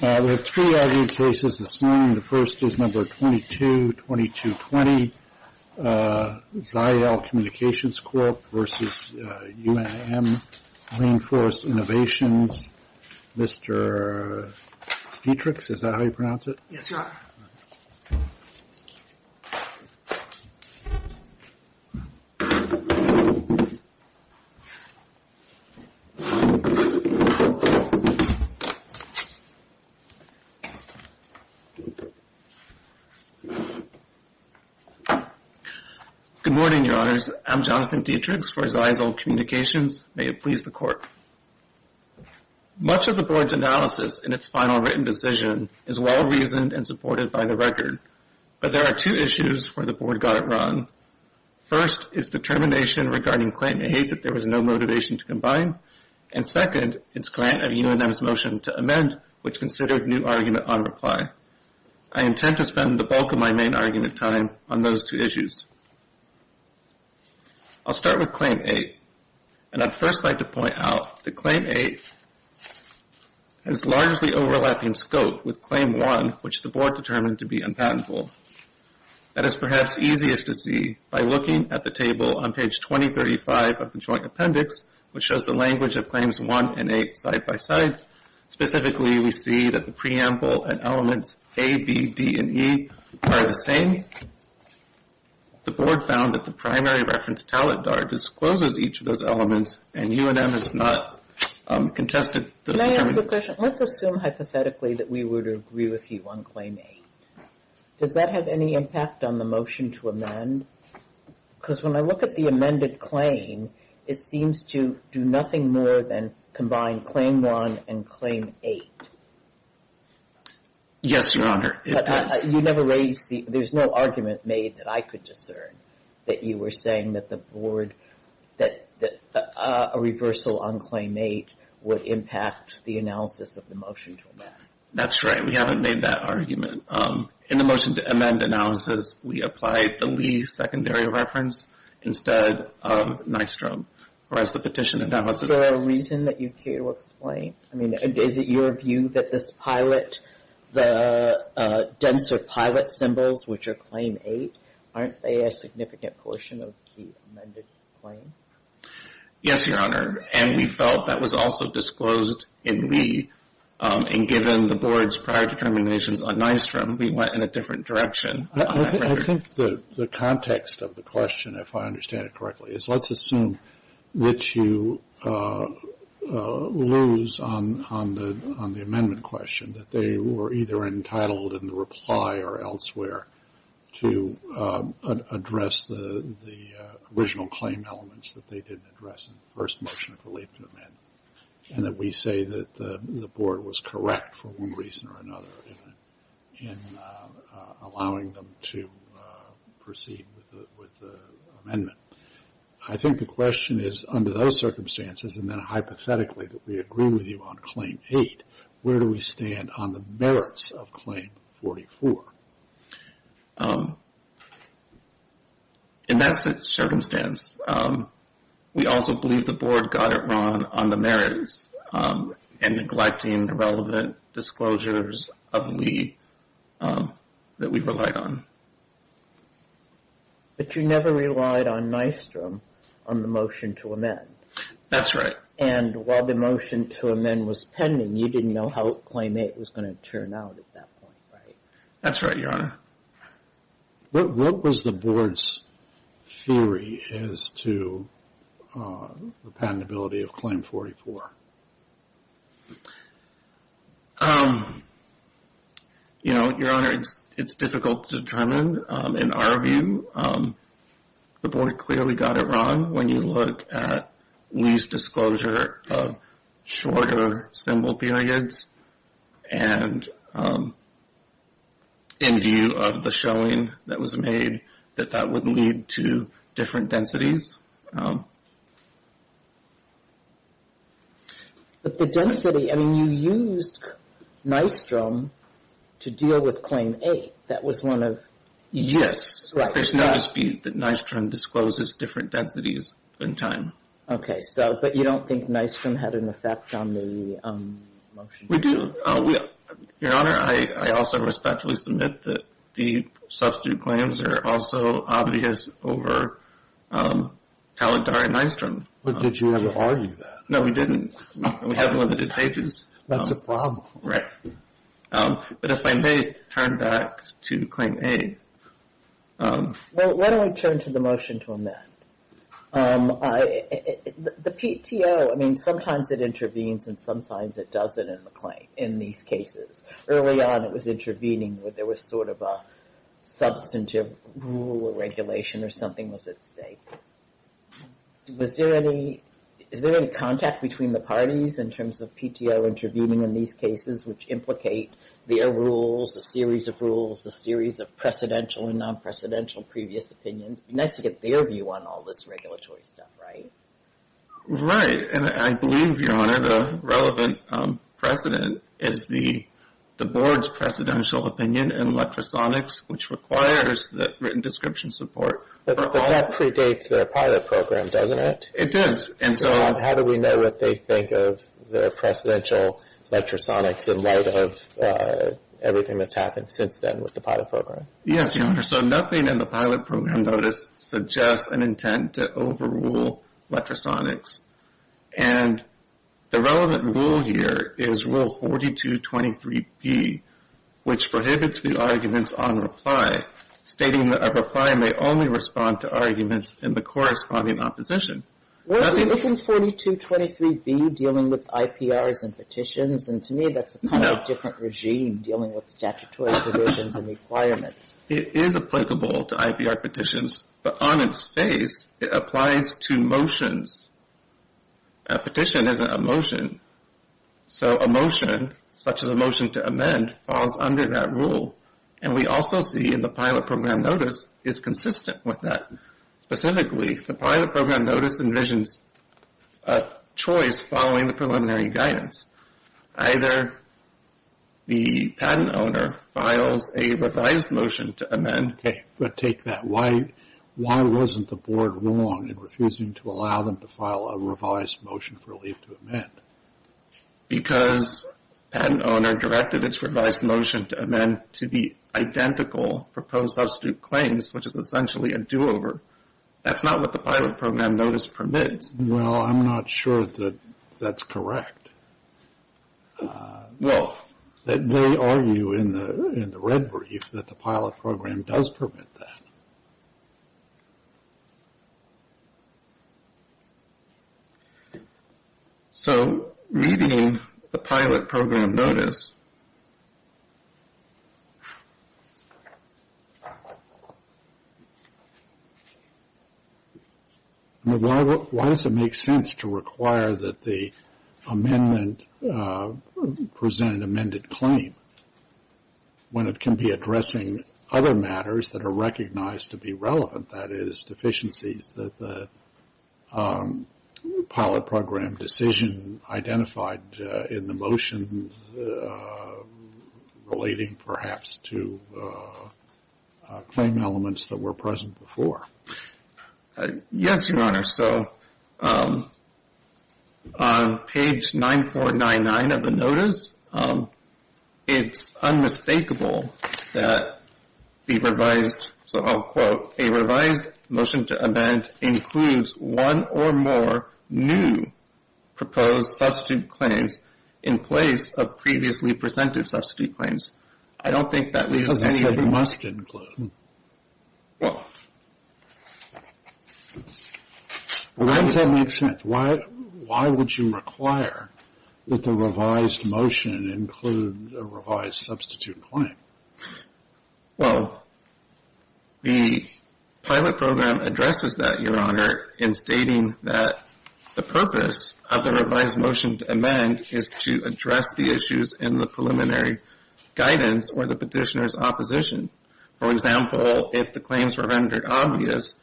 We have three argued cases this morning. The first is number 22220, ZyXEL Communications Corp. v. UNM Rainforest Innovations. Mr. Dietrichs, is that how you pronounce it? Yes, Your Honor. Good morning, Your Honors. I'm Jonathan Dietrichs for ZyXEL Communications. May it please the Court. Much of the Board's analysis in its final written decision is well-reasoned and supported by the record, but there are two issues where the Board got it wrong. First, it's determination regarding Claim 8 that there was no motivation to combine. And second, it's grant of UNM's motion to amend, which considered new argument on reply. I intend to spend the bulk of my main argument time on those two issues. I'll start with Claim 8. And I'd first like to point out that Claim 8 has largely overlapping scope with Claim 1, which the Board determined to be unpatentable. That is perhaps easiest to see by looking at the table on page 2035 of the Joint Appendix, which shows the language of Claims 1 and 8 side-by-side. Specifically, we see that the preamble and elements A, B, D, and E are the same. The Board found that the primary reference talent dart discloses each of those elements, and UNM has not contested those. Let me ask a question. Let's assume hypothetically that we were to agree with you on Claim 8. Does that have any impact on the motion to amend? Because when I look at the amended claim, it seems to do nothing more than combine Claim 1 and Claim 8. Yes, Your Honor, it does. You never raised the – there's no argument made that I could discern that you were saying that the Board – that a reversal on Claim 8 would impact the analysis of the motion to amend. That's right. We haven't made that argument. In the motion to amend analysis, we applied the Lee secondary reference instead of Nystrom, whereas the petition analysis – Is there a reason that you care to explain? I mean, is it your view that this pilot – the denser pilot symbols, which are Claim 8, aren't they a significant portion of the amended claim? Yes, Your Honor, and we felt that was also disclosed in Lee, and given the Board's prior determinations on Nystrom, we went in a different direction. I think the context of the question, if I understand it correctly, is let's assume that you lose on the amendment question, that they were either entitled in the reply or elsewhere to address the original claim elements that they didn't address in the first motion of the late amendment, and that we say that the Board was correct for one reason or another in allowing them to proceed with the amendment. I think the question is, under those circumstances, and then hypothetically that we agree with you on Claim 8, where do we stand on the merits of Claim 44? In that circumstance, we also believe the Board got it wrong on the merits and neglecting the relevant disclosures of Lee that we relied on. But you never relied on Nystrom on the motion to amend. That's right. And while the motion to amend was pending, you didn't know how Claim 8 was going to turn out at that point, right? That's right, Your Honor. What was the Board's theory as to the patentability of Claim 44? You know, Your Honor, it's difficult to determine. In our view, the Board clearly got it wrong when you look at Lee's disclosure of shorter symbol periods and in view of the showing that was made, that that would lead to different densities. But the density, I mean, you used Nystrom to deal with Claim 8. That was one of... Yes. Right. There's no dispute that Nystrom discloses different densities in time. Okay. But you don't think Nystrom had an effect on the motion? We do. Your Honor, I also respectfully submit that the substitute claims are also obvious over Taladar and Nystrom. But did you ever argue that? No, we didn't. We have limited pages. That's a problem. Right. But if I may turn back to Claim 8. Why don't we turn to the motion to amend? The PTO, I mean, sometimes it intervenes and sometimes it doesn't in the claim, in these cases. Early on, it was intervening, but there was sort of a substantive rule or regulation or something was at stake. Is there any contact between the parties in terms of PTO intervening in these cases, which implicate their rules, a series of rules, a series of precedential and non-precedential previous opinions? It would be nice to get their view on all this regulatory stuff, right? Right. And I believe, Your Honor, the relevant precedent is the board's precedential opinion in electrosonics, which requires the written description support. But that predates their pilot program, doesn't it? It does. So how do we know what they think of the precedential electrosonics in light of everything that's happened since then with the pilot program? Yes, Your Honor. So nothing in the pilot program notice suggests an intent to overrule electrosonics. And the relevant rule here is Rule 4223B, which prohibits the arguments on reply, stating that a reply may only respond to arguments in the corresponding opposition. Well, isn't 4223B dealing with IPRs and petitions? And to me, that's kind of a different regime dealing with statutory provisions and requirements. It is applicable to IPR petitions, but on its face, it applies to motions. A petition isn't a motion. So a motion, such as a motion to amend, falls under that rule. And we also see in the pilot program notice, it's consistent with that. Specifically, the pilot program notice envisions a choice following the preliminary guidance. Either the patent owner files a revised motion to amend. Okay, but take that. Why wasn't the board wrong in refusing to allow them to file a revised motion for a leave to amend? Because the patent owner directed its revised motion to amend to the identical proposed substitute claims, which is essentially a do-over. That's not what the pilot program notice permits. Well, I'm not sure that that's correct. Well, they argue in the red brief that the pilot program does permit that. So meeting the pilot program notice. Why does it make sense to require that the amendment present an amended claim when it can be addressing other matters that are recognized to be relevant? That is, deficiencies that the pilot program decision identified in the motion relating perhaps to claim elements that were present before. Yes, Your Honor. So on page 9499 of the notice, it's unmistakable that the revised, so I'll quote, a revised motion to amend includes one or more new proposed substitute claims in place of previously presented substitute claims. I don't think that leaves any that it must include. Why does that make sense? Why would you require that the revised motion include a revised substitute claim? Well, the pilot program addresses that, Your Honor, in stating that the purpose of the revised motion to amend is to address the issues in the preliminary guidance or the petitioner's opposition. For example, if the claims were rendered obvious,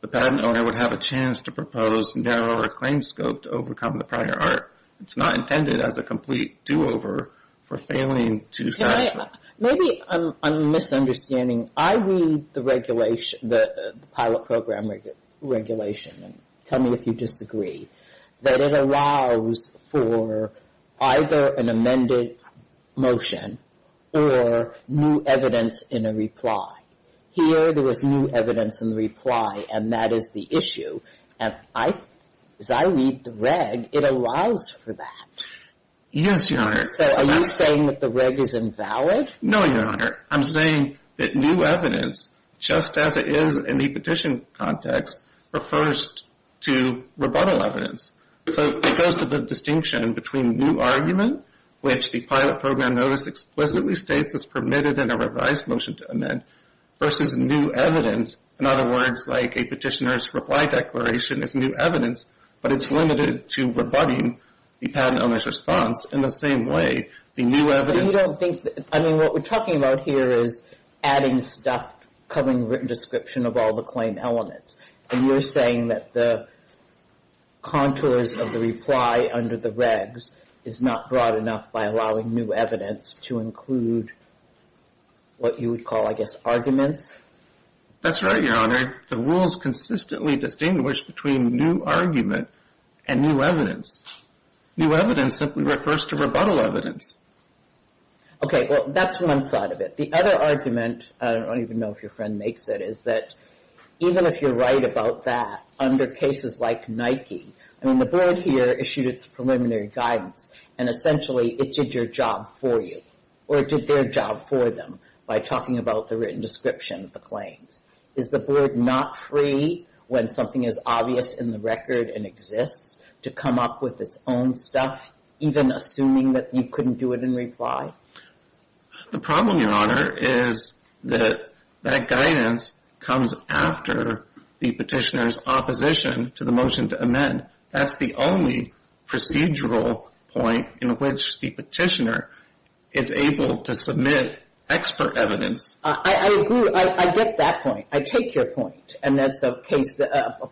the patent owner would have a chance to propose narrower claim scope to overcome the prior art. It's not intended as a complete do-over for failing to satisfy. Maybe I'm misunderstanding. I read the pilot program regulation, and tell me if you disagree, that it allows for either an amended motion or new evidence in a reply. Here there was new evidence in the reply, and that is the issue. As I read the reg, it allows for that. Yes, Your Honor. So are you saying that the reg is invalid? No, Your Honor. I'm saying that new evidence, just as it is in the petition context, refers to rebuttal evidence. So it goes to the distinction between new argument, which the pilot program notice explicitly states is permitted in a revised motion to amend, versus new evidence. In other words, like a petitioner's reply declaration is new evidence, but it's limited to rebutting the patent owner's response in the same way. I mean, what we're talking about here is adding stuff covering written description of all the claim elements. And you're saying that the contours of the reply under the regs is not broad enough by allowing new evidence to include what you would call, I guess, arguments? That's right, Your Honor. The rules consistently distinguish between new argument and new evidence. New evidence simply refers to rebuttal evidence. Okay, well, that's one side of it. The other argument, I don't even know if your friend makes it, is that even if you're right about that, under cases like Nike, I mean, the board here issued its preliminary guidance, and essentially it did your job for you, or it did their job for them, by talking about the written description of the claims. Is the board not free when something is obvious in the record and exists to come up with its own stuff, even assuming that you couldn't do it in reply? The problem, Your Honor, is that that guidance comes after the petitioner's opposition to the motion to amend. That's the only procedural point in which the petitioner is able to submit expert evidence. I agree. I get that point. I take your point. And that's a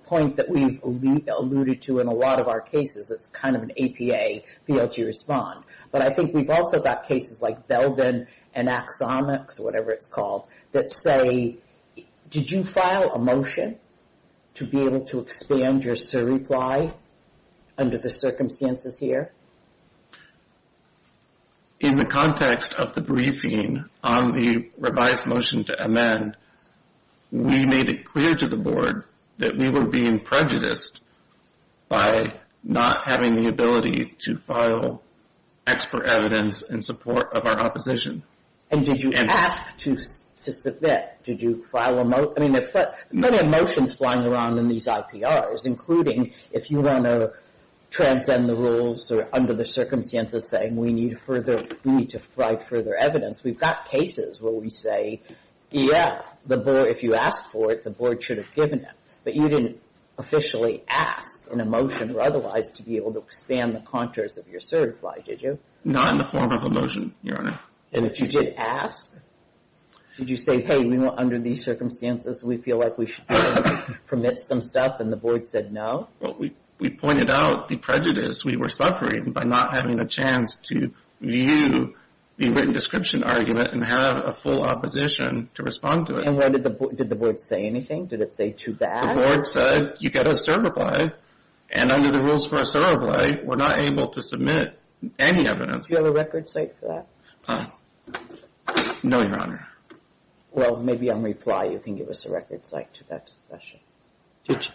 point that we've alluded to in a lot of our cases. It's kind of an APA field to respond. But I think we've also got cases like Belvin and Axomics, whatever it's called, that say, did you file a motion to be able to expand your reply under the circumstances here? In the context of the briefing on the revised motion to amend, we made it clear to the board that we were being prejudiced by not having the ability to file expert evidence in support of our opposition. And did you ask to submit? Did you file a motion? I mean, there are plenty of motions flying around in these IPRs, including if you want to transcend the rules or under the circumstances, saying we need to provide further evidence. We've got cases where we say, yeah, if you ask for it, the board should have given it. But you didn't officially ask in a motion or otherwise to be able to expand the contours of your reply, did you? Not in the form of a motion, Your Honor. And if you did ask, did you say, hey, under these circumstances, we feel like we should be able to permit some stuff, and the board said no? Well, we pointed out the prejudice we were suffering by not having a chance to view the written description argument and have a full opposition to respond to it. And did the board say anything? Did it say too bad? The board said, you've got to serve a plight, and under the rules for a serve a plight we're not able to submit any evidence. Do you have a record site for that? No, Your Honor. Well, maybe on reply you can give us a record site to that discussion.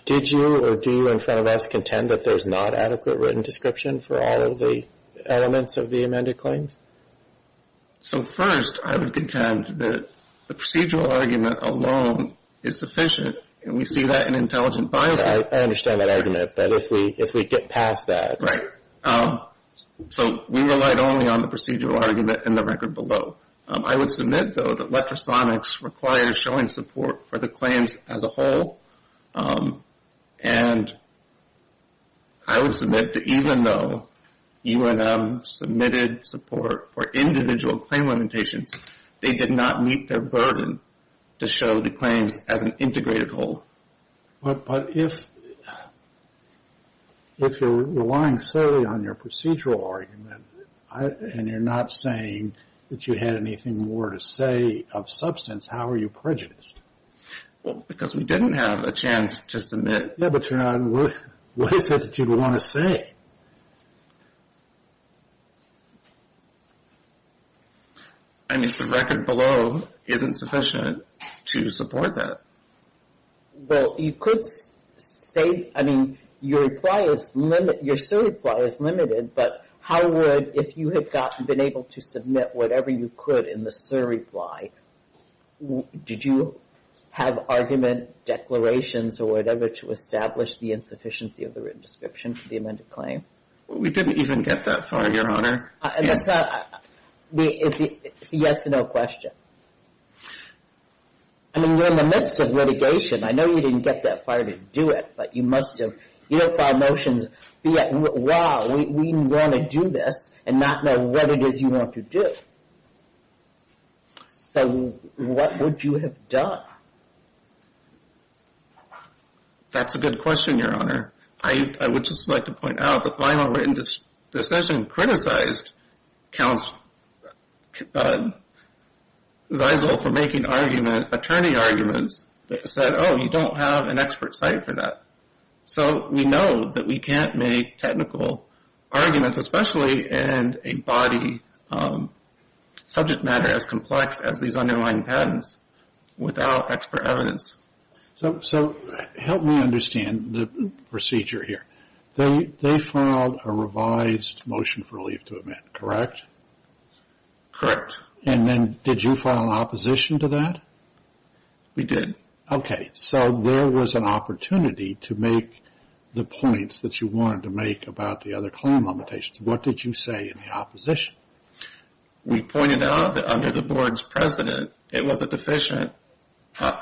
Did you or do you in front of us contend that there's not adequate written description for all of the elements of the amended claims? So first, I would contend that the procedural argument alone is sufficient, and we see that in intelligent biases. I understand that argument, that if we get past that. Right. So we relied only on the procedural argument and the record below. I would submit, though, that electrosonics required a showing support for the claims as a whole, and I would submit that even though UNM submitted support for individual claim limitations, they did not meet their burden to show the claims as an integrated whole. But if you're relying solely on your procedural argument and you're not saying that you had anything more to say of substance, how are you prejudiced? Because we didn't have a chance to submit. Yeah, but Your Honor, what is it that you want to say? I mean, the record below isn't sufficient to support that. Well, you could say, I mean, your reply is limited, your surreply is limited, but how would, if you had been able to submit whatever you could in the surreply, did you have argument, declarations, or whatever to establish the insufficiency of the written description for the amended claim? We didn't even get that far, Your Honor. It's a yes or no question. I mean, you're in the midst of litigation. I know you didn't get that far to do it, but you must have. You don't file motions, wow, we want to do this, and not know what it is you want to do. What would you have done? That's a good question, Your Honor. I would just like to point out, the final written decision criticized counsel, Ziesel for making argument, attorney arguments that said, oh, you don't have an expert site for that. So we know that we can't make technical arguments, especially in a body subject matter as complex as these underlying patents, without expert evidence. So help me understand the procedure here. They filed a revised motion for relief to amend, correct? Correct. And then did you file an opposition to that? We did. Okay, so there was an opportunity to make the points that you wanted to make about the other claim limitations. What did you say in the opposition? We pointed out that under the board's precedent, it was a deficient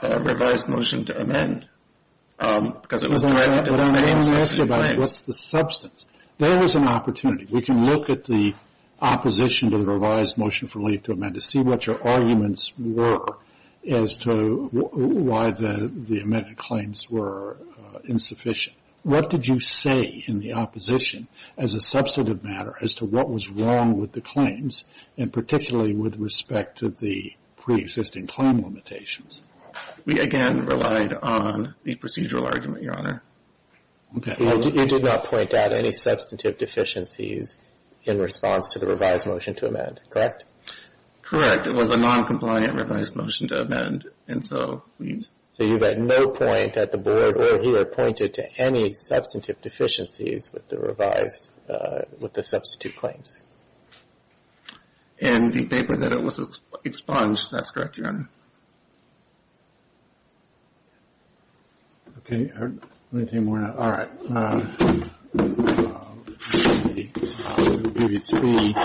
revised motion to amend, because it was directed to the same claims. What's the substance? There was an opportunity. We can look at the opposition to the revised motion for relief to amend to see what your arguments were as to why the amended claims were insufficient. What did you say in the opposition as a substantive matter as to what was wrong with the claims, and particularly with respect to the preexisting claim limitations? We, again, relied on the procedural argument, Your Honor. Okay. You did not point out any substantive deficiencies in response to the revised motion to amend, correct? Correct. It was a noncompliant revised motion to amend, and so we've… So you've had no point at the board or here pointed to any substantive deficiencies with the revised, with the substitute claims? In the paper that it was expunged, that's correct, Your Honor. Okay. Anything more? All right. We'll give you three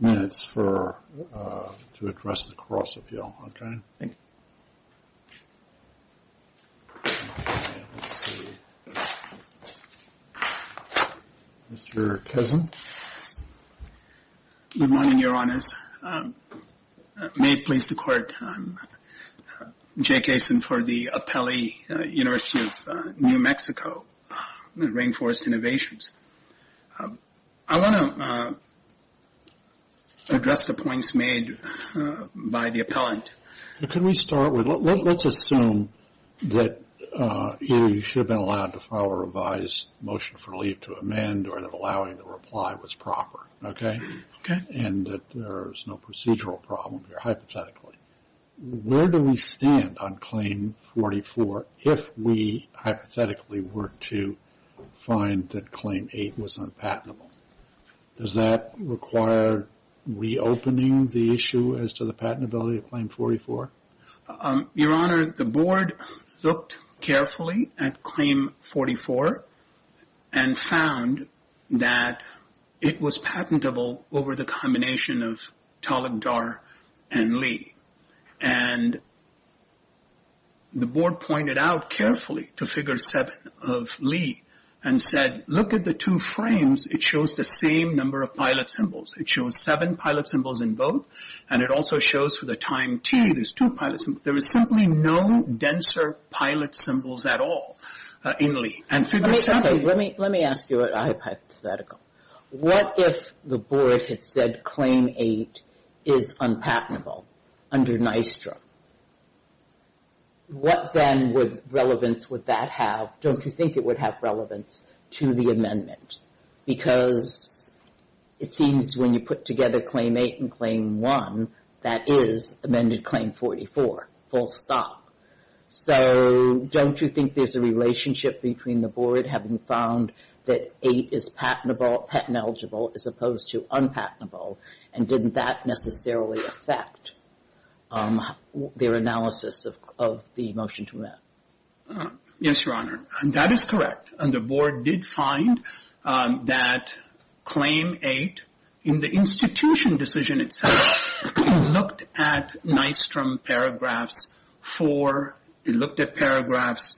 minutes to address the cross-appeal. Okay? Thank you. Mr. Kessin. Good morning, Your Honors. May it please the Court. I'm Jake Kessin for the Apelli University of New Mexico, Rainforest Innovations. I want to address the points made by the appellant. Can we start with, let's assume that you should have been allowed to file a revised motion for leave to amend or that allowing the reply was proper, okay? Okay. And that there is no procedural problem here, hypothetically. Where do we stand on Claim 44 if we hypothetically were to find that Claim 8 was unpatentable? Does that require reopening the issue as to the patentability of Claim 44? Your Honor, the Board looked carefully at Claim 44 and found that it was patentable over the combination of Talagdar and Lee. And the Board pointed out carefully to Figure 7 of Lee and said, look at the two frames, it shows the same number of pilot symbols. It shows seven pilot symbols in both. And it also shows for the time T, there's two pilot symbols. There is simply no denser pilot symbols at all in Lee. Let me ask you a hypothetical. What if the Board had said Claim 8 is unpatentable under NYSTRA? What then would relevance would that have? Don't you think it would have relevance to the amendment? Because it seems when you put together Claim 8 and Claim 1, that is amended Claim 44, full stop. So don't you think there's a relationship between the Board having found that 8 is patentable, patent-eligible, as opposed to unpatentable? And didn't that necessarily affect their analysis of the motion to amend? Yes, Your Honor. And that is correct. And the Board did find that Claim 8, in the institution decision itself, looked at NYSTROM paragraphs 4. It looked at paragraphs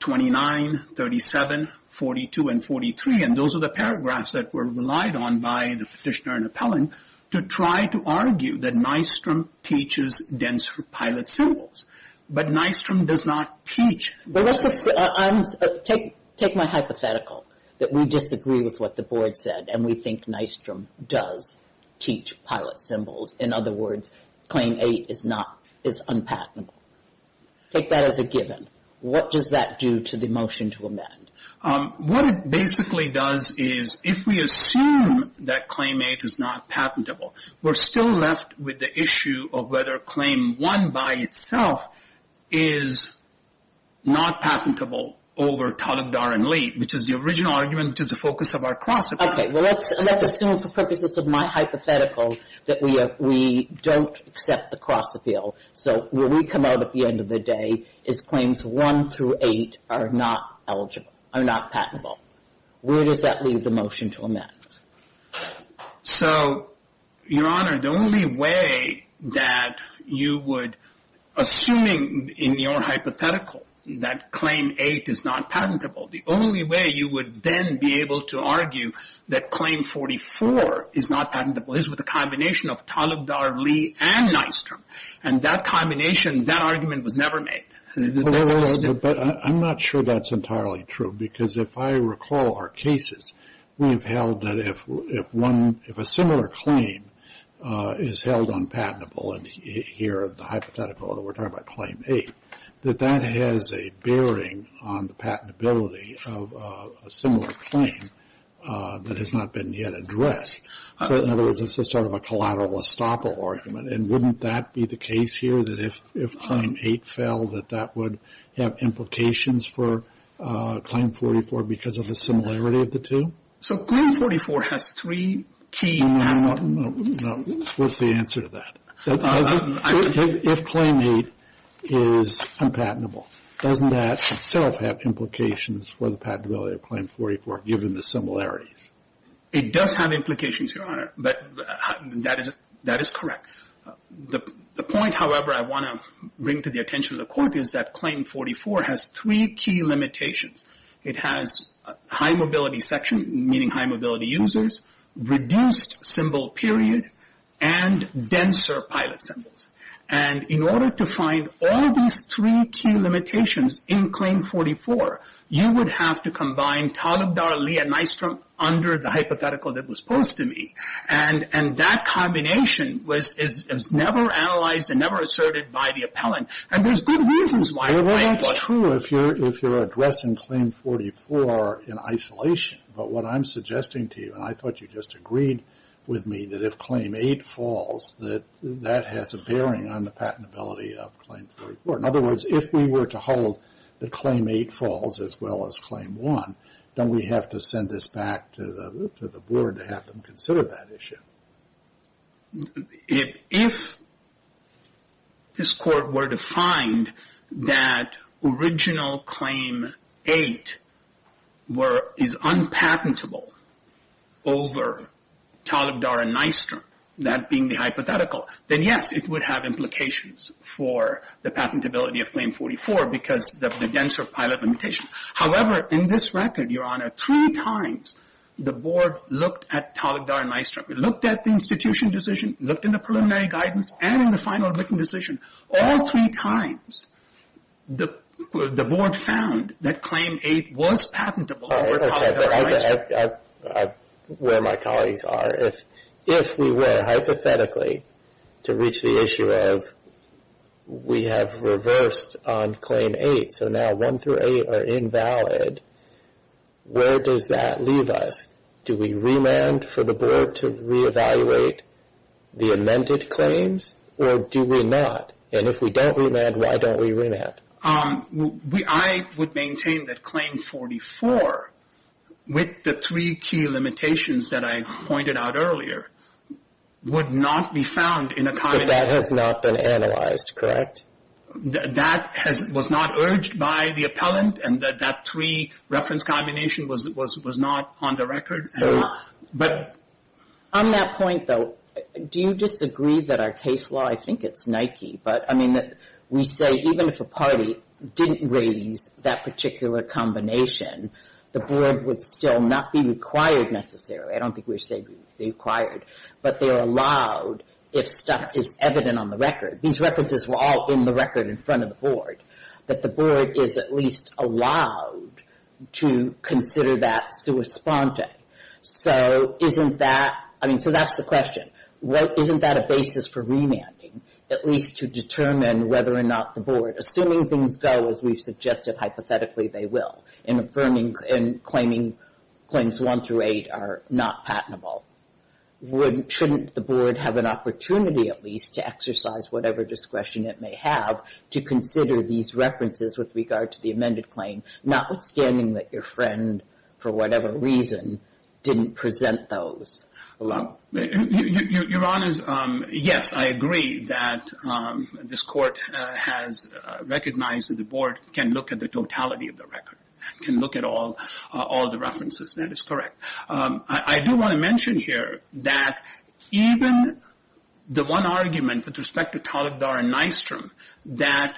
29, 37, 42, and 43. And those are the paragraphs that were relied on by the petitioner and appellant to try to argue that NYSTROM teaches denser pilot symbols. But NYSTROM does not teach that. Take my hypothetical that we disagree with what the Board said and we think NYSTROM does teach pilot symbols. In other words, Claim 8 is unpatentable. Take that as a given. What does that do to the motion to amend? What it basically does is if we assume that Claim 8 is not patentable, we're still left with the issue of whether Claim 1, by itself, is not patentable over Talibdar and Leite, which is the original argument which is the focus of our cross-appeal. Okay. Well, let's assume, for purposes of my hypothetical, that we don't accept the cross-appeal. So where we come out at the end of the day is Claims 1 through 8 are not eligible, are not patentable. Where does that leave the motion to amend? So, Your Honor, the only way that you would, assuming in your hypothetical, that Claim 8 is not patentable, the only way you would then be able to argue that Claim 44 is not patentable is with a combination of Talibdar, Leite, and NYSTROM. And that combination, that argument was never made. But I'm not sure that's entirely true, because if I recall our cases, we have held that if a similar claim is held unpatentable, and here, the hypothetical, we're talking about Claim 8, that that has a bearing on the patentability of a similar claim that has not been yet addressed. So, in other words, this is sort of a collateral estoppel argument. And wouldn't that be the case here, that if Claim 8 fell, that that would have implications for Claim 44 because of the similarity of the two? So, Claim 44 has three key patents. No. What's the answer to that? If Claim 8 is unpatentable, doesn't that itself have implications for the patentability of Claim 44, given the similarities? It does have implications, Your Honor. But that is correct. The point, however, I want to bring to the attention of the Court is that Claim 44 has three key limitations. It has high-mobility section, meaning high-mobility users, reduced symbol period, and denser pilot symbols. And in order to find all these three key limitations in Claim 44, you would have to combine Talibdar, Lee, and Nystrom under the hypothetical that was posed to me. And that combination was never analyzed and never asserted by the appellant. And there's good reasons why. Well, it's true if you're addressing Claim 44 in isolation. But what I'm suggesting to you, and I thought you just agreed with me, that if Claim 8 falls, that that has a bearing on the patentability of Claim 44. In other words, if we were to hold that Claim 8 falls as well as Claim 1, don't we have to send this back to the Board to have them consider that issue? If this Court were to find that original Claim 8 is unpatentable over Talibdar and Nystrom, that being the hypothetical, then yes, it would have implications for the patentability of Claim 44 because of the denser pilot limitation. However, in this record, Your Honor, three times the Board looked at Talibdar and Nystrom. We looked at the institution decision, looked in the preliminary guidance, and in the final written decision. All three times, the Board found that Claim 8 was patentable over Talibdar and Nystrom. Where my colleagues are, if we were, hypothetically, to reach the issue of we have reversed on Claim 8, so now 1 through 8 are invalid, where does that leave us? Do we remand for the Board to reevaluate the amended claims? Or do we not? And if we don't remand, why don't we remand? I would maintain that Claim 44, with the three key limitations that I pointed out earlier, would not be found in a combination. But that has not been analyzed, correct? That was not urged by the appellant, and that three-reference combination was not on the record. On that point, though, do you disagree that our case law, I think it's Nike, but we say even if a party didn't raise that particular combination, the Board would still not be required necessarily. I don't think we're saying they're required, but they're allowed if stuff is evident on the record. These references were all in the record in front of the Board, that the Board is at least allowed to consider that sua sponte. So that's the question. Isn't that a basis for remanding, at least to determine whether or not the Board, assuming things go as we've suggested, hypothetically, they will, and claiming Claims 1 through 8 are not patentable. Shouldn't the Board have an opportunity, at least, to exercise whatever discretion it may have to consider these references with regard to the amended claim, notwithstanding that your friend, for whatever reason, didn't present those alone? Your Honors, yes, I agree that this Court has recognized that the Board can look at the totality of the record, can look at all the references, and that is correct. I do want to mention here that even the one argument with respect to Talibdar and Nystrom, that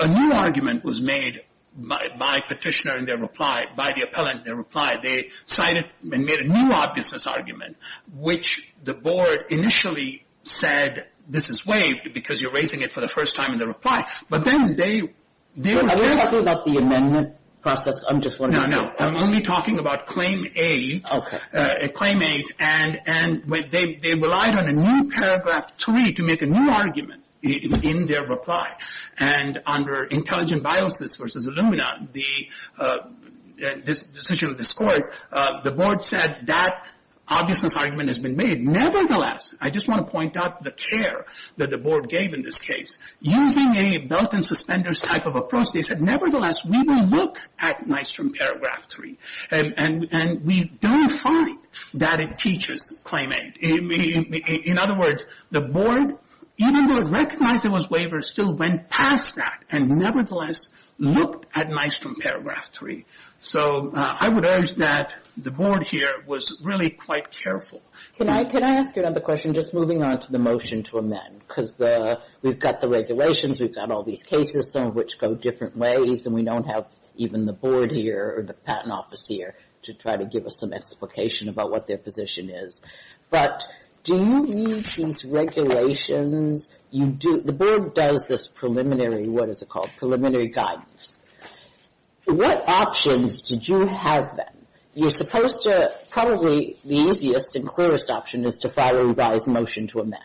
a new argument was made by Petitioner in their reply, by the appellant in their reply. They cited and made a new obviousness argument, which the Board initially said, this is waived because you're raising it for the first time in the reply. But then they... Are you talking about the amendment process? No, no, I'm only talking about Claim 8. Okay. Claim 8, and they relied on a new paragraph 3 to make a new argument in their reply. And under Intelligent Biosis v. Illumina, the decision of this Court, the Board said that obviousness argument has been made. Nevertheless, I just want to point out the care that the Board gave in this case. Using a belt-and-suspenders type of approach, they said, nevertheless, we will look at Nystrom Paragraph 3. And we don't find that it teaches Claim 8. In other words, the Board, even though it recognized there was waiver, still went past that and nevertheless looked at Nystrom Paragraph 3. So I would urge that the Board here was really quite careful. Because we've got the regulations, we've got all these cases, some of which go different ways, and we don't have even the Board here or the Patent Office here to try to give us some explication about what their position is. But do you need these regulations? The Board does this preliminary... What is it called? Preliminary guidance. What options did you have then? You're supposed to... Probably the easiest and clearest option is to file a revised motion to amend.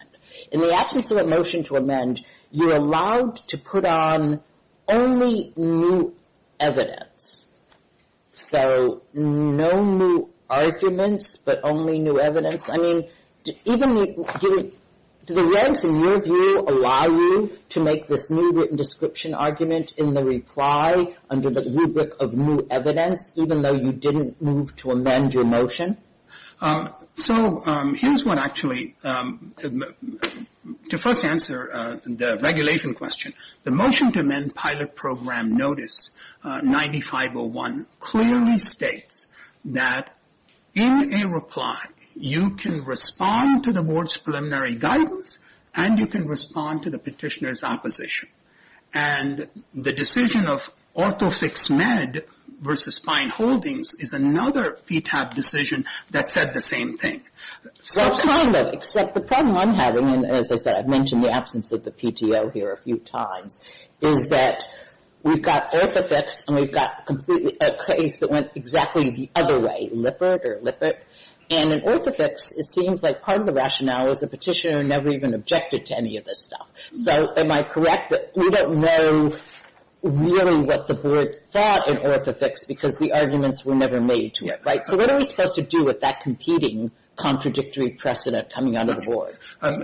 In the absence of a motion to amend, you're allowed to put on only new evidence. So no new arguments, but only new evidence. I mean, even... Do the regs, in your view, allow you to make this new written description argument in the reply under the rubric of new evidence, even though you didn't move to amend your motion? So here's what actually... To first answer the regulation question, the motion to amend pilot program notice 9501 clearly states that in a reply, you can respond to the Board's preliminary guidance and you can respond to the petitioner's opposition. And the decision of ortho fix med versus spine holdings is another PTAB decision that said the same thing. Well, kind of, except the problem I'm having, and as I said, I've mentioned the absence of the PTO here a few times, is that we've got ortho fix and we've got a case that went exactly the other way, Lippert or Lippert. And in ortho fix, it seems like part of the rationale is the petitioner never even objected to any of this stuff. So am I correct that we don't know really what the Board thought in ortho fix because the arguments were never made to it, right? So what are we supposed to do with that competing contradictory precedent coming out of the Board?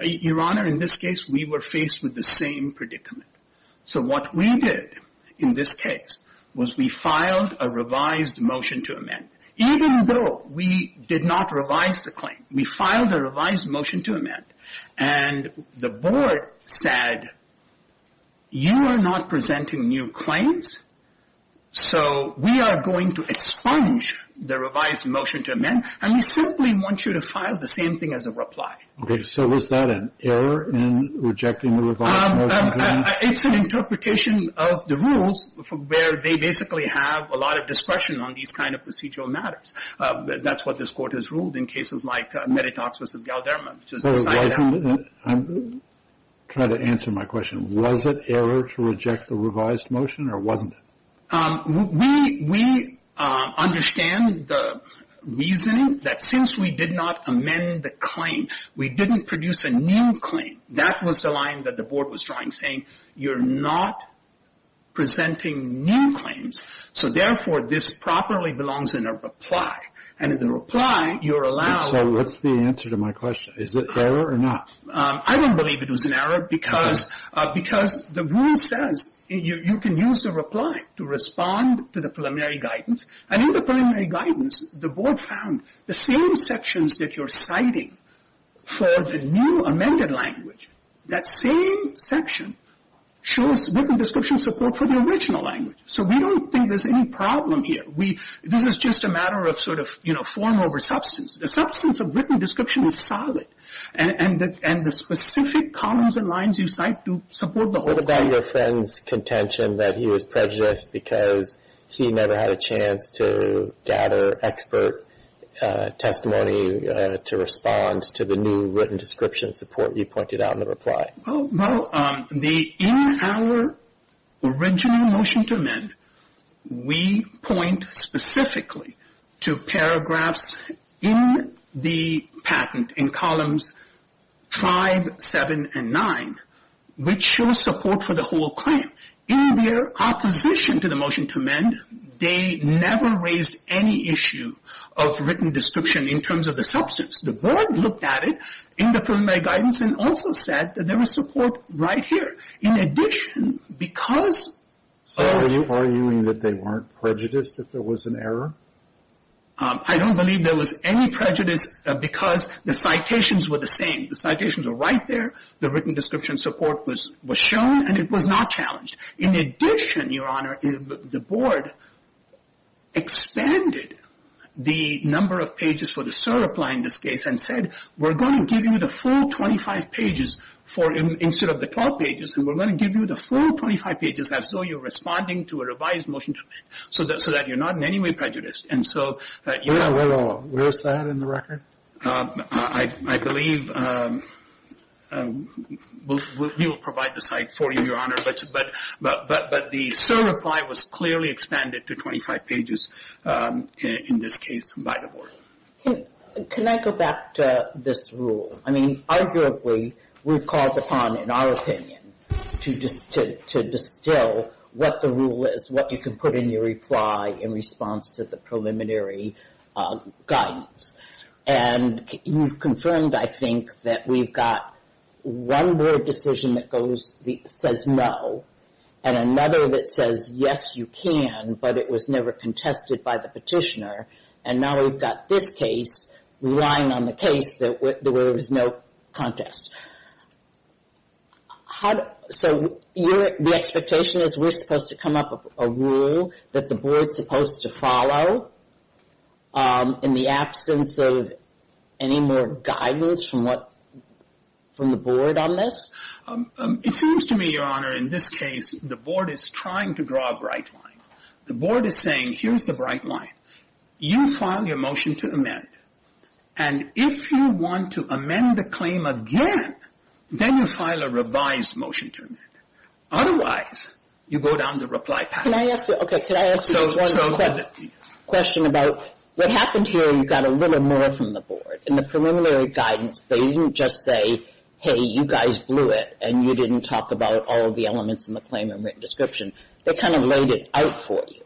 Your Honor, in this case, we were faced with the same predicament. So what we did in this case was we filed a revised motion to amend. Even though we did not revise the claim, we filed a revised motion to amend and the Board said, you are not presenting new claims, so we are going to expunge the revised motion to amend and we simply want you to file the same thing as a reply. Okay, so was that an error in rejecting the revised motion? It's an interpretation of the rules where they basically have a lot of discretion on these kind of procedural matters. That's what this Court has ruled in cases like Meditox v. Galderman. I'm trying to answer my question. Was it error to reject the revised motion or wasn't it? We understand the reasoning that since we did not amend the claim, we didn't produce a new claim. That was the line that the Board was drawing, saying you're not presenting new claims, so therefore this properly belongs in a reply. And in the reply, you're allowed... So what's the answer to my question? Is it error or not? I don't believe it was an error because the rule says you can use the reply to respond to the preliminary guidance. And in the preliminary guidance, the Board found the same sections that you're citing for the new amended language, that same section shows written description support for the original language. So we don't think there's any problem here. This is just a matter of sort of form over substance. The substance of written description is solid and the specific columns and lines you cite do support the whole claim. What about your friend's contention that he was prejudiced because he never had a chance to gather expert testimony to respond to the new written description support you pointed out in the reply? Well, in our original motion to amend, we point specifically to paragraphs in the patent in columns 5, 7, and 9, which show support for the whole claim. In their opposition to the motion to amend, they never raised any issue of written description in terms of the substance. The Board looked at it in the preliminary guidance and also said that there was support right here. In addition, because... Are you arguing that they weren't prejudiced if there was an error? I don't believe there was any prejudice because the citations were the same. The citations were right there. The written description support was shown and it was not challenged. In addition, Your Honor, the Board expanded the number of pages for the SIR reply in this case and said we're going to give you the full 25 pages instead of the 12 pages and we're going to give you the full 25 pages as though you're responding to a revised motion to amend so that you're not in any way prejudiced. And so... Where's that in the record? I believe we'll provide the site for you, Your Honor, but the SIR reply was clearly expanded to 25 pages in this case by the Board. Can I go back to this rule? I mean, arguably, we've called upon, in our opinion, to distill what the rule is, what you can put in your reply in response to the preliminary guidance. And you've confirmed, I think, that we've got one Board decision that says no and another that says, yes, you can, but it was never contested by the petitioner. And now we've got this case relying on the case that there was no contest. So the expectation is we're supposed to come up with a rule that the Board's supposed to follow in the absence of any more guidance from the Board on this? It seems to me, Your Honor, in this case, the Board is trying to draw a bright line. The Board is saying, here's the bright line. You file your motion to amend, and if you want to amend the claim again, then you file a revised motion to amend. Otherwise, you go down the reply path. Can I ask you just one quick question about what happened here? You got a little more from the Board. In the preliminary guidance, they didn't just say, hey, you guys blew it, and you didn't talk about all of the elements in the claim and written description. They kind of laid it out for you.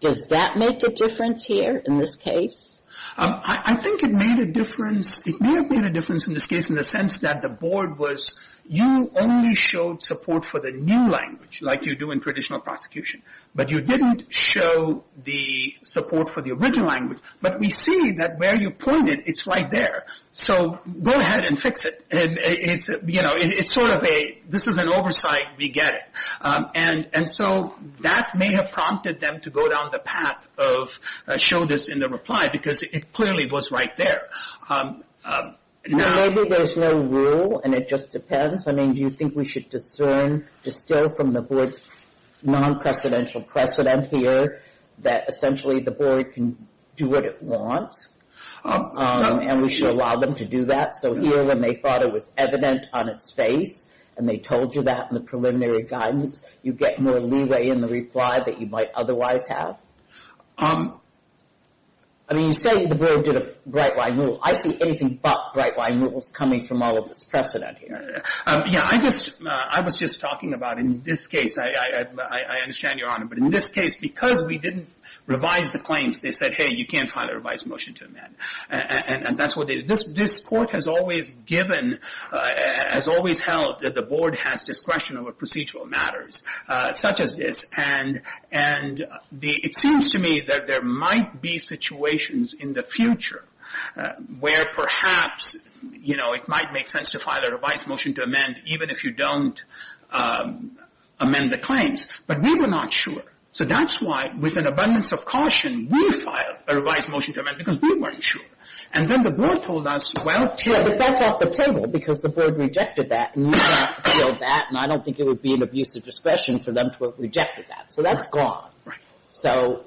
Does that make a difference here in this case? I think it made a difference. It may have made a difference in this case in the sense that the Board was, you only showed support for the new language, like you do in traditional prosecution. But you didn't show the support for the original language. But we see that where you point it, it's right there. So go ahead and fix it. It's sort of a, this is an oversight, we get it. And so that may have prompted them to go down the path of show this in the reply because it clearly was right there. Maybe there's no rule, and it just depends. I mean, do you think we should discern, distill from the Board's non-precedential precedent here that essentially the Board can do what it wants, and we should allow them to do that? So here when they thought it was evident on its face, and they told you that in the preliminary guidance, you get more leeway in the reply that you might otherwise have? I mean, you say the Board did a bright line rule. I see anything but bright line rules coming from all of this precedent here. Yeah, I just, I was just talking about in this case, I understand, Your Honor. But in this case, because we didn't revise the claims, they said, hey, you can't file a revised motion to amend. This Court has always given, has always held, that the Board has discretion over procedural matters such as this. And it seems to me that there might be situations in the future where perhaps it might make sense to file a revised motion to amend even if you don't amend the claims. But we were not sure. So that's why, with an abundance of caution, we filed a revised motion to amend because we weren't sure. And then the Board told us, well, take it. Yeah, but that's off the table because the Board rejected that, and you have to deal with that, and I don't think it would be an abuse of discretion for them to have rejected that. So that's gone. Right. So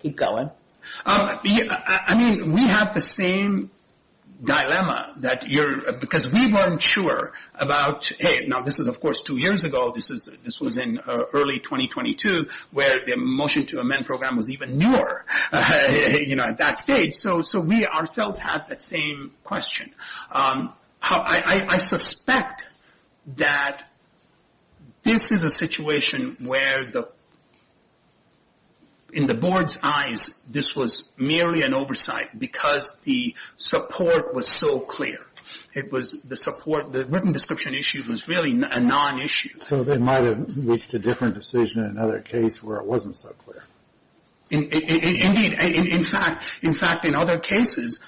keep going. I mean, we have the same dilemma that you're, because we weren't sure about, hey, now this is, of course, two years ago. This was in early 2022 where the motion to amend program was even newer, you know, at that stage. So we ourselves have that same question. I suspect that this is a situation where, in the Board's eyes, this was merely an oversight because the support was so clear. It was the support, the written description issue was really a non-issue. So they might have reached a different decision in another case where it wasn't so clear. Indeed. In fact, in other cases,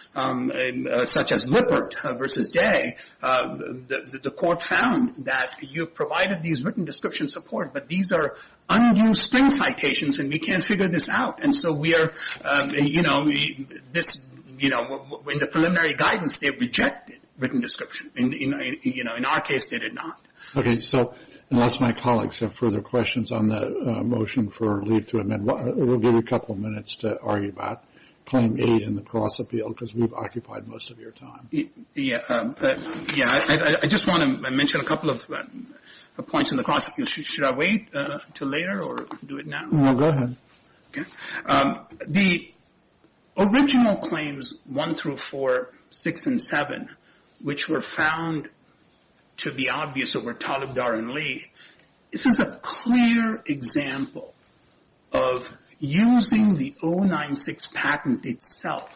such as Lippert v. Day, the Court found that you provided these written description support, but these are undue spring citations, and we can't figure this out. And so we are, you know, in the preliminary guidance, they rejected written description. In our case, they did not. Okay, so unless my colleagues have further questions on the motion for leave to amend, we'll give you a couple of minutes to argue about Claim 8 and the Cross-Appeal, because we've occupied most of your time. Yeah, I just want to mention a couple of points on the Cross-Appeal. Should I wait until later or do it now? No, go ahead. Okay. The original claims 1 through 4, 6 and 7, which were found to be obvious over Talibdar and Lee, this is a clear example of using the 096 patent itself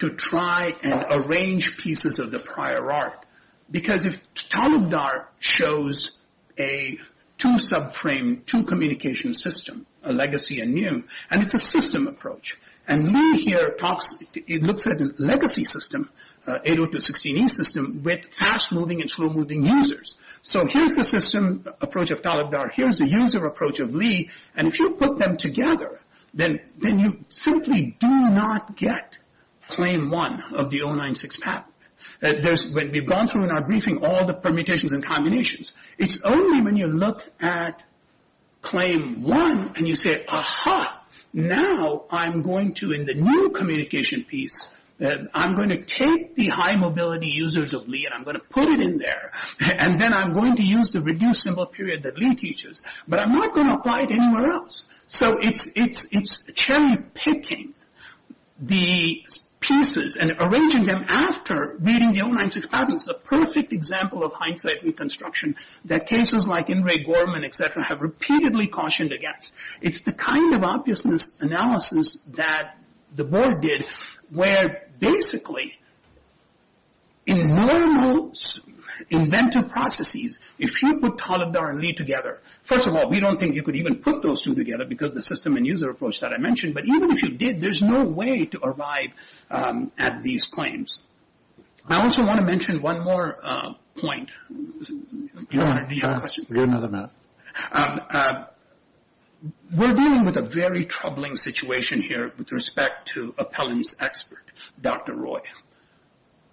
to try and arrange pieces of the prior art. Because if Talibdar shows a two-subframe, two-communication system, a legacy and new, and it's a system approach, and Lee here talks, it looks at a legacy system, 802.16e system, with fast-moving and slow-moving users. So here's the system approach of Talibdar, here's the user approach of Lee, and if you put them together, then you simply do not get Claim 1 of the 096 patent. When we've gone through in our briefing all the permutations and combinations, it's only when you look at Claim 1 and you say, aha, now I'm going to, in the new communication piece, I'm going to take the high-mobility users of Lee and I'm going to put it in there, and then I'm going to use the reduced symbol period that Lee teaches, but I'm not going to apply it anywhere else. So it's cherry-picking the pieces and arranging them after reading the 096 patents. It's a perfect example of hindsight reconstruction that cases like Ingray-Gorman, et cetera, have repeatedly cautioned against. It's the kind of obviousness analysis that the board did, where basically in normal inventive processes, if you put Talibdar and Lee together, first of all, we don't think you could even put those two together because the system and user approach that I mentioned, but even if you did, there's no way to arrive at these claims. I also want to mention one more point. Do you have a question? We have another minute. We're dealing with a very troubling situation here with respect to appellant's expert, Dr. Roy.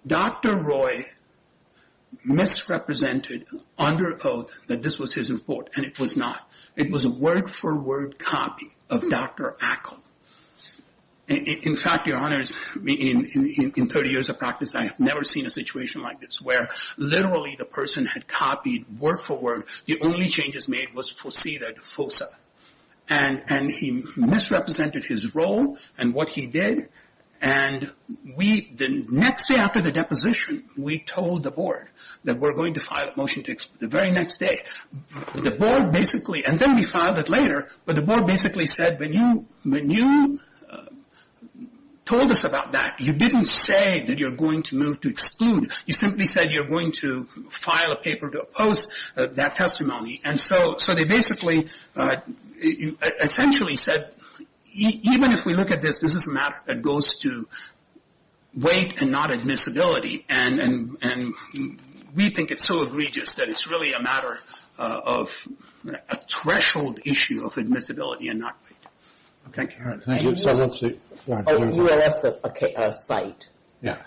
Dr. Roy misrepresented under oath that this was his report, and it was not. It was a word-for-word copy of Dr. Ackle. In fact, your honors, in 30 years of practice, I have never seen a situation like this, where literally the person had copied word-for-word. The only changes made was to see that FOSA. He misrepresented his role and what he did. The next day after the deposition, we told the board that we're going to file a motion the very next day. The board basically, and then we filed it later, but the board basically said, when you told us about that, you didn't say that you're going to move to exclude. You simply said you're going to file a paper to oppose that testimony. And so they basically essentially said, even if we look at this, this is a matter that goes to weight and not admissibility, and we think it's so egregious that it's really a matter of a threshold issue of admissibility and not weight. Okay, Karen. Thank you. U.S. site,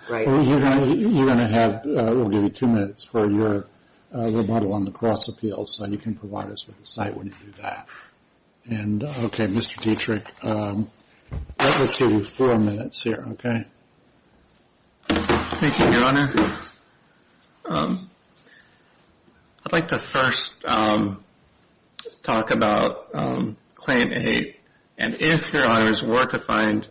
right? You're going to have, we'll give you two minutes for your rebuttal on the cross-appeals, so you can provide us with the site when you do that. And, okay, Mr. Dietrich, let's give you four minutes here, okay? Thank you, Your Honor. I'd like to first talk about Claim 8, and if Your Honors were to find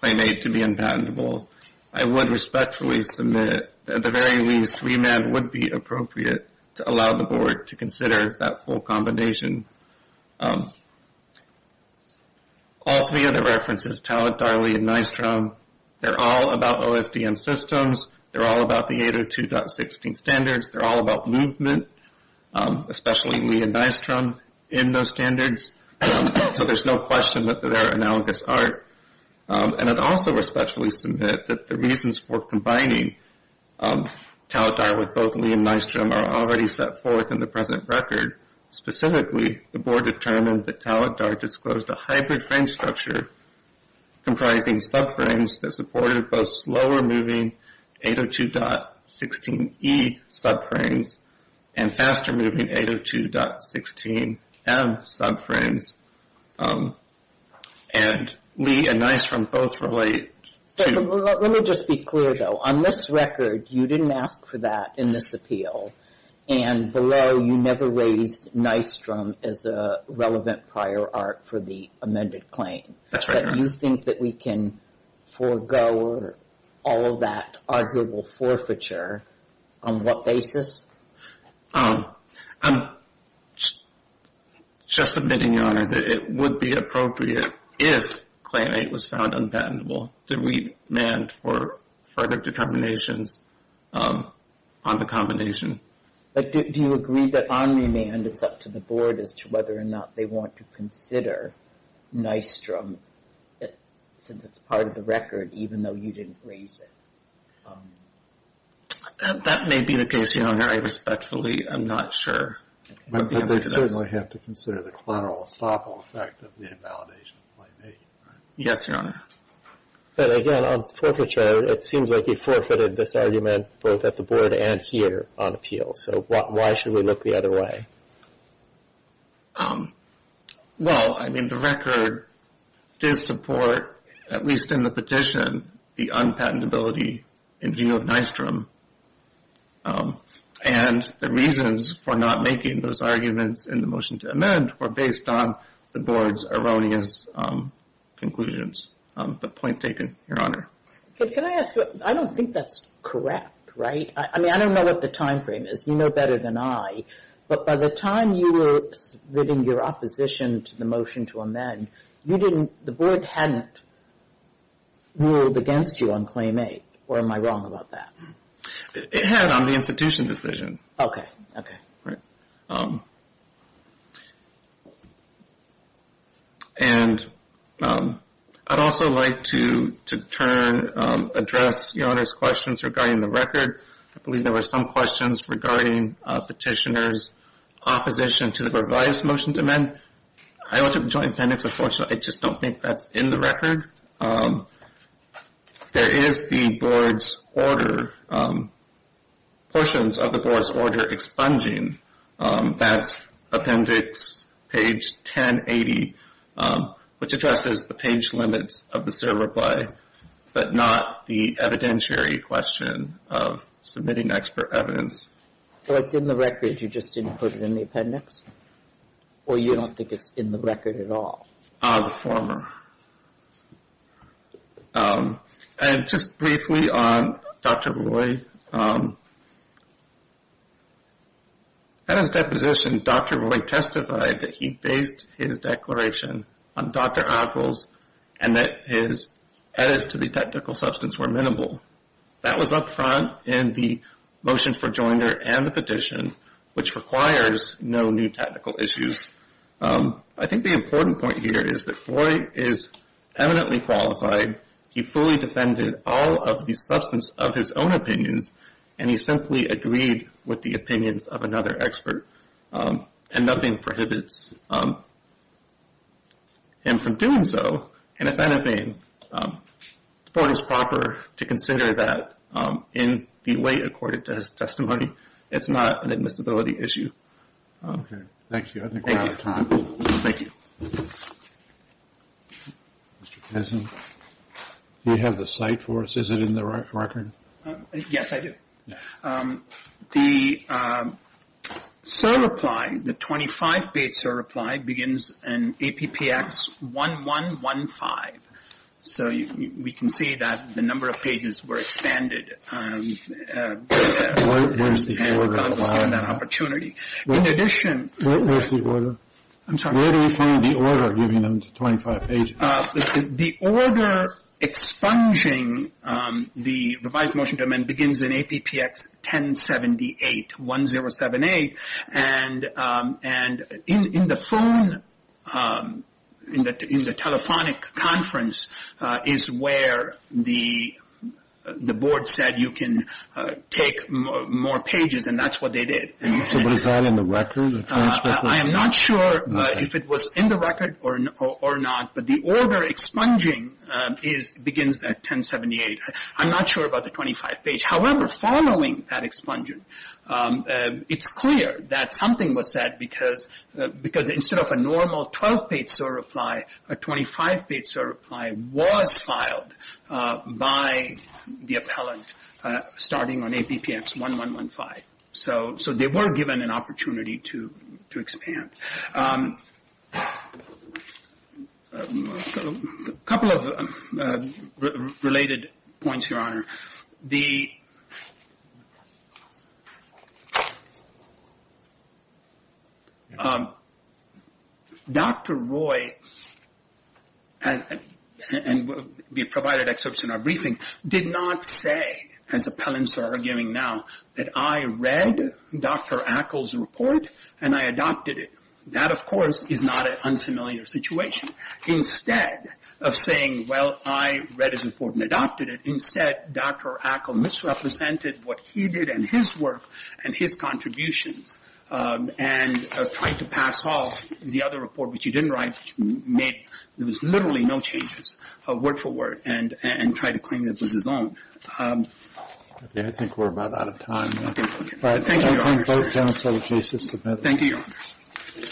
Claim 8 to be unpatentable, I would respectfully submit that at the very least, remand would be appropriate to allow the Board to consider that full combination. All three of the references, Talat, Darley, and Nystrom, they're all about OFDM systems. They're all about the 802.16 standards. They're all about movement, especially Lee and Nystrom in those standards. So there's no question that they're analogous art. And I'd also respectfully submit that the reasons for combining Talat, Darley, with both Lee and Nystrom are already set forth in the present record. Specifically, the Board determined that Talat, Darley disclosed a hybrid frame structure comprising subframes that supported both slower-moving 802.16E subframes and faster-moving 802.16M subframes. And Lee and Nystrom both relate to... Let me just be clear, though. On this record, you didn't ask for that in this appeal, and below you never raised Nystrom as a relevant prior art for the amended claim. That's right, Your Honor. But you think that we can forego all of that arguable forfeiture on what basis? I'm just admitting, Your Honor, that it would be appropriate, if claim eight was found unpatentable, to remand for further determinations on the combination. But do you agree that on remand it's up to the Board as to whether or not they want to consider Nystrom since it's part of the record, even though you didn't raise it? That may be the case, Your Honor. I respectfully am not sure. But they certainly have to consider the collateral estoppel effect of the invalidation. Yes, Your Honor. But again, on forfeiture, it seems like you forfeited this argument both at the Board and here on appeal. So why should we look the other way? than the unpatentability in view of Nystrom? And the reasons for not making those arguments in the motion to amend were based on the Board's erroneous conclusions. But point taken, Your Honor. Can I ask you, I don't think that's correct, right? I mean, I don't know what the time frame is. You know better than I. But by the time you were submitting your opposition to the motion to amend, you didn't, the Board hadn't ruled against you on Claim 8. Or am I wrong about that? It had on the institution decision. Okay, okay. And I'd also like to turn, address Your Honor's questions regarding the record. I believe there were some questions regarding petitioner's opposition to the revised motion to amend. I don't have a joint appendix, unfortunately. I just don't think that's in the record. There is the Board's order, portions of the Board's order expunging that appendix, page 1080, which addresses the page limits of the civil reply, but not the evidentiary question of submitting expert evidence. So it's in the record. You just didn't put it in the appendix? Or you don't think it's in the record at all? The former. And just briefly on Dr. Roy, at his deposition, Dr. Roy testified that he based his declaration on Dr. Adle's and that his edits to the technical substance were minimal. That was up front in the motion for joinder and the petition, which requires no new technical issues. I think the important point here is that Roy is eminently qualified. He fully defended all of the substance of his own opinions, and he simply agreed with the opinions of another expert. And nothing prohibits him from doing so. And if anything, the Board is proper to consider that in the way accorded to his testimony. It's not an admissibility issue. Okay. Thank you. I think we're out of time. Thank you. Mr. Kessin, do you have the cite for us? Is it in the record? Yes, I do. The certify, the 25-page certify, begins in APPX 1115. So we can see that the number of pages were expanded. Where is the order? In addition to that opportunity. Where is the order? I'm sorry. Where do we find the order giving them the 25 pages? The order expunging the revised motion to amend begins in APPX 1078, 1078. And in the phone, in the telephonic conference, is where the Board said you can take more pages, and that's what they did. So was that in the record? I am not sure if it was in the record or not. But the order expunging begins at 1078. I'm not sure about the 25 page. However, following that expungent, it's clear that something was said because instead of a normal 12-page certify, a 25-page certify was filed by the appellant starting on APPX 1115. So they were given an opportunity to expand. A couple of related points, Your Honor. The... Dr. Roy, and we provided excerpts in our briefing, did not say, as appellants are arguing now, that I read Dr. Ackle's report and I adopted it. That, of course, is not an unfamiliar situation. Instead of saying, well, I read his report and adopted it, instead Dr. Ackle misrepresented what he did and his work and his contributions and tried to pass off the other report, which he didn't write, made literally no changes, word for word, and tried to claim it was his own. I think we're about out of time. Thank you, Your Honor. Thank you, Your Honor.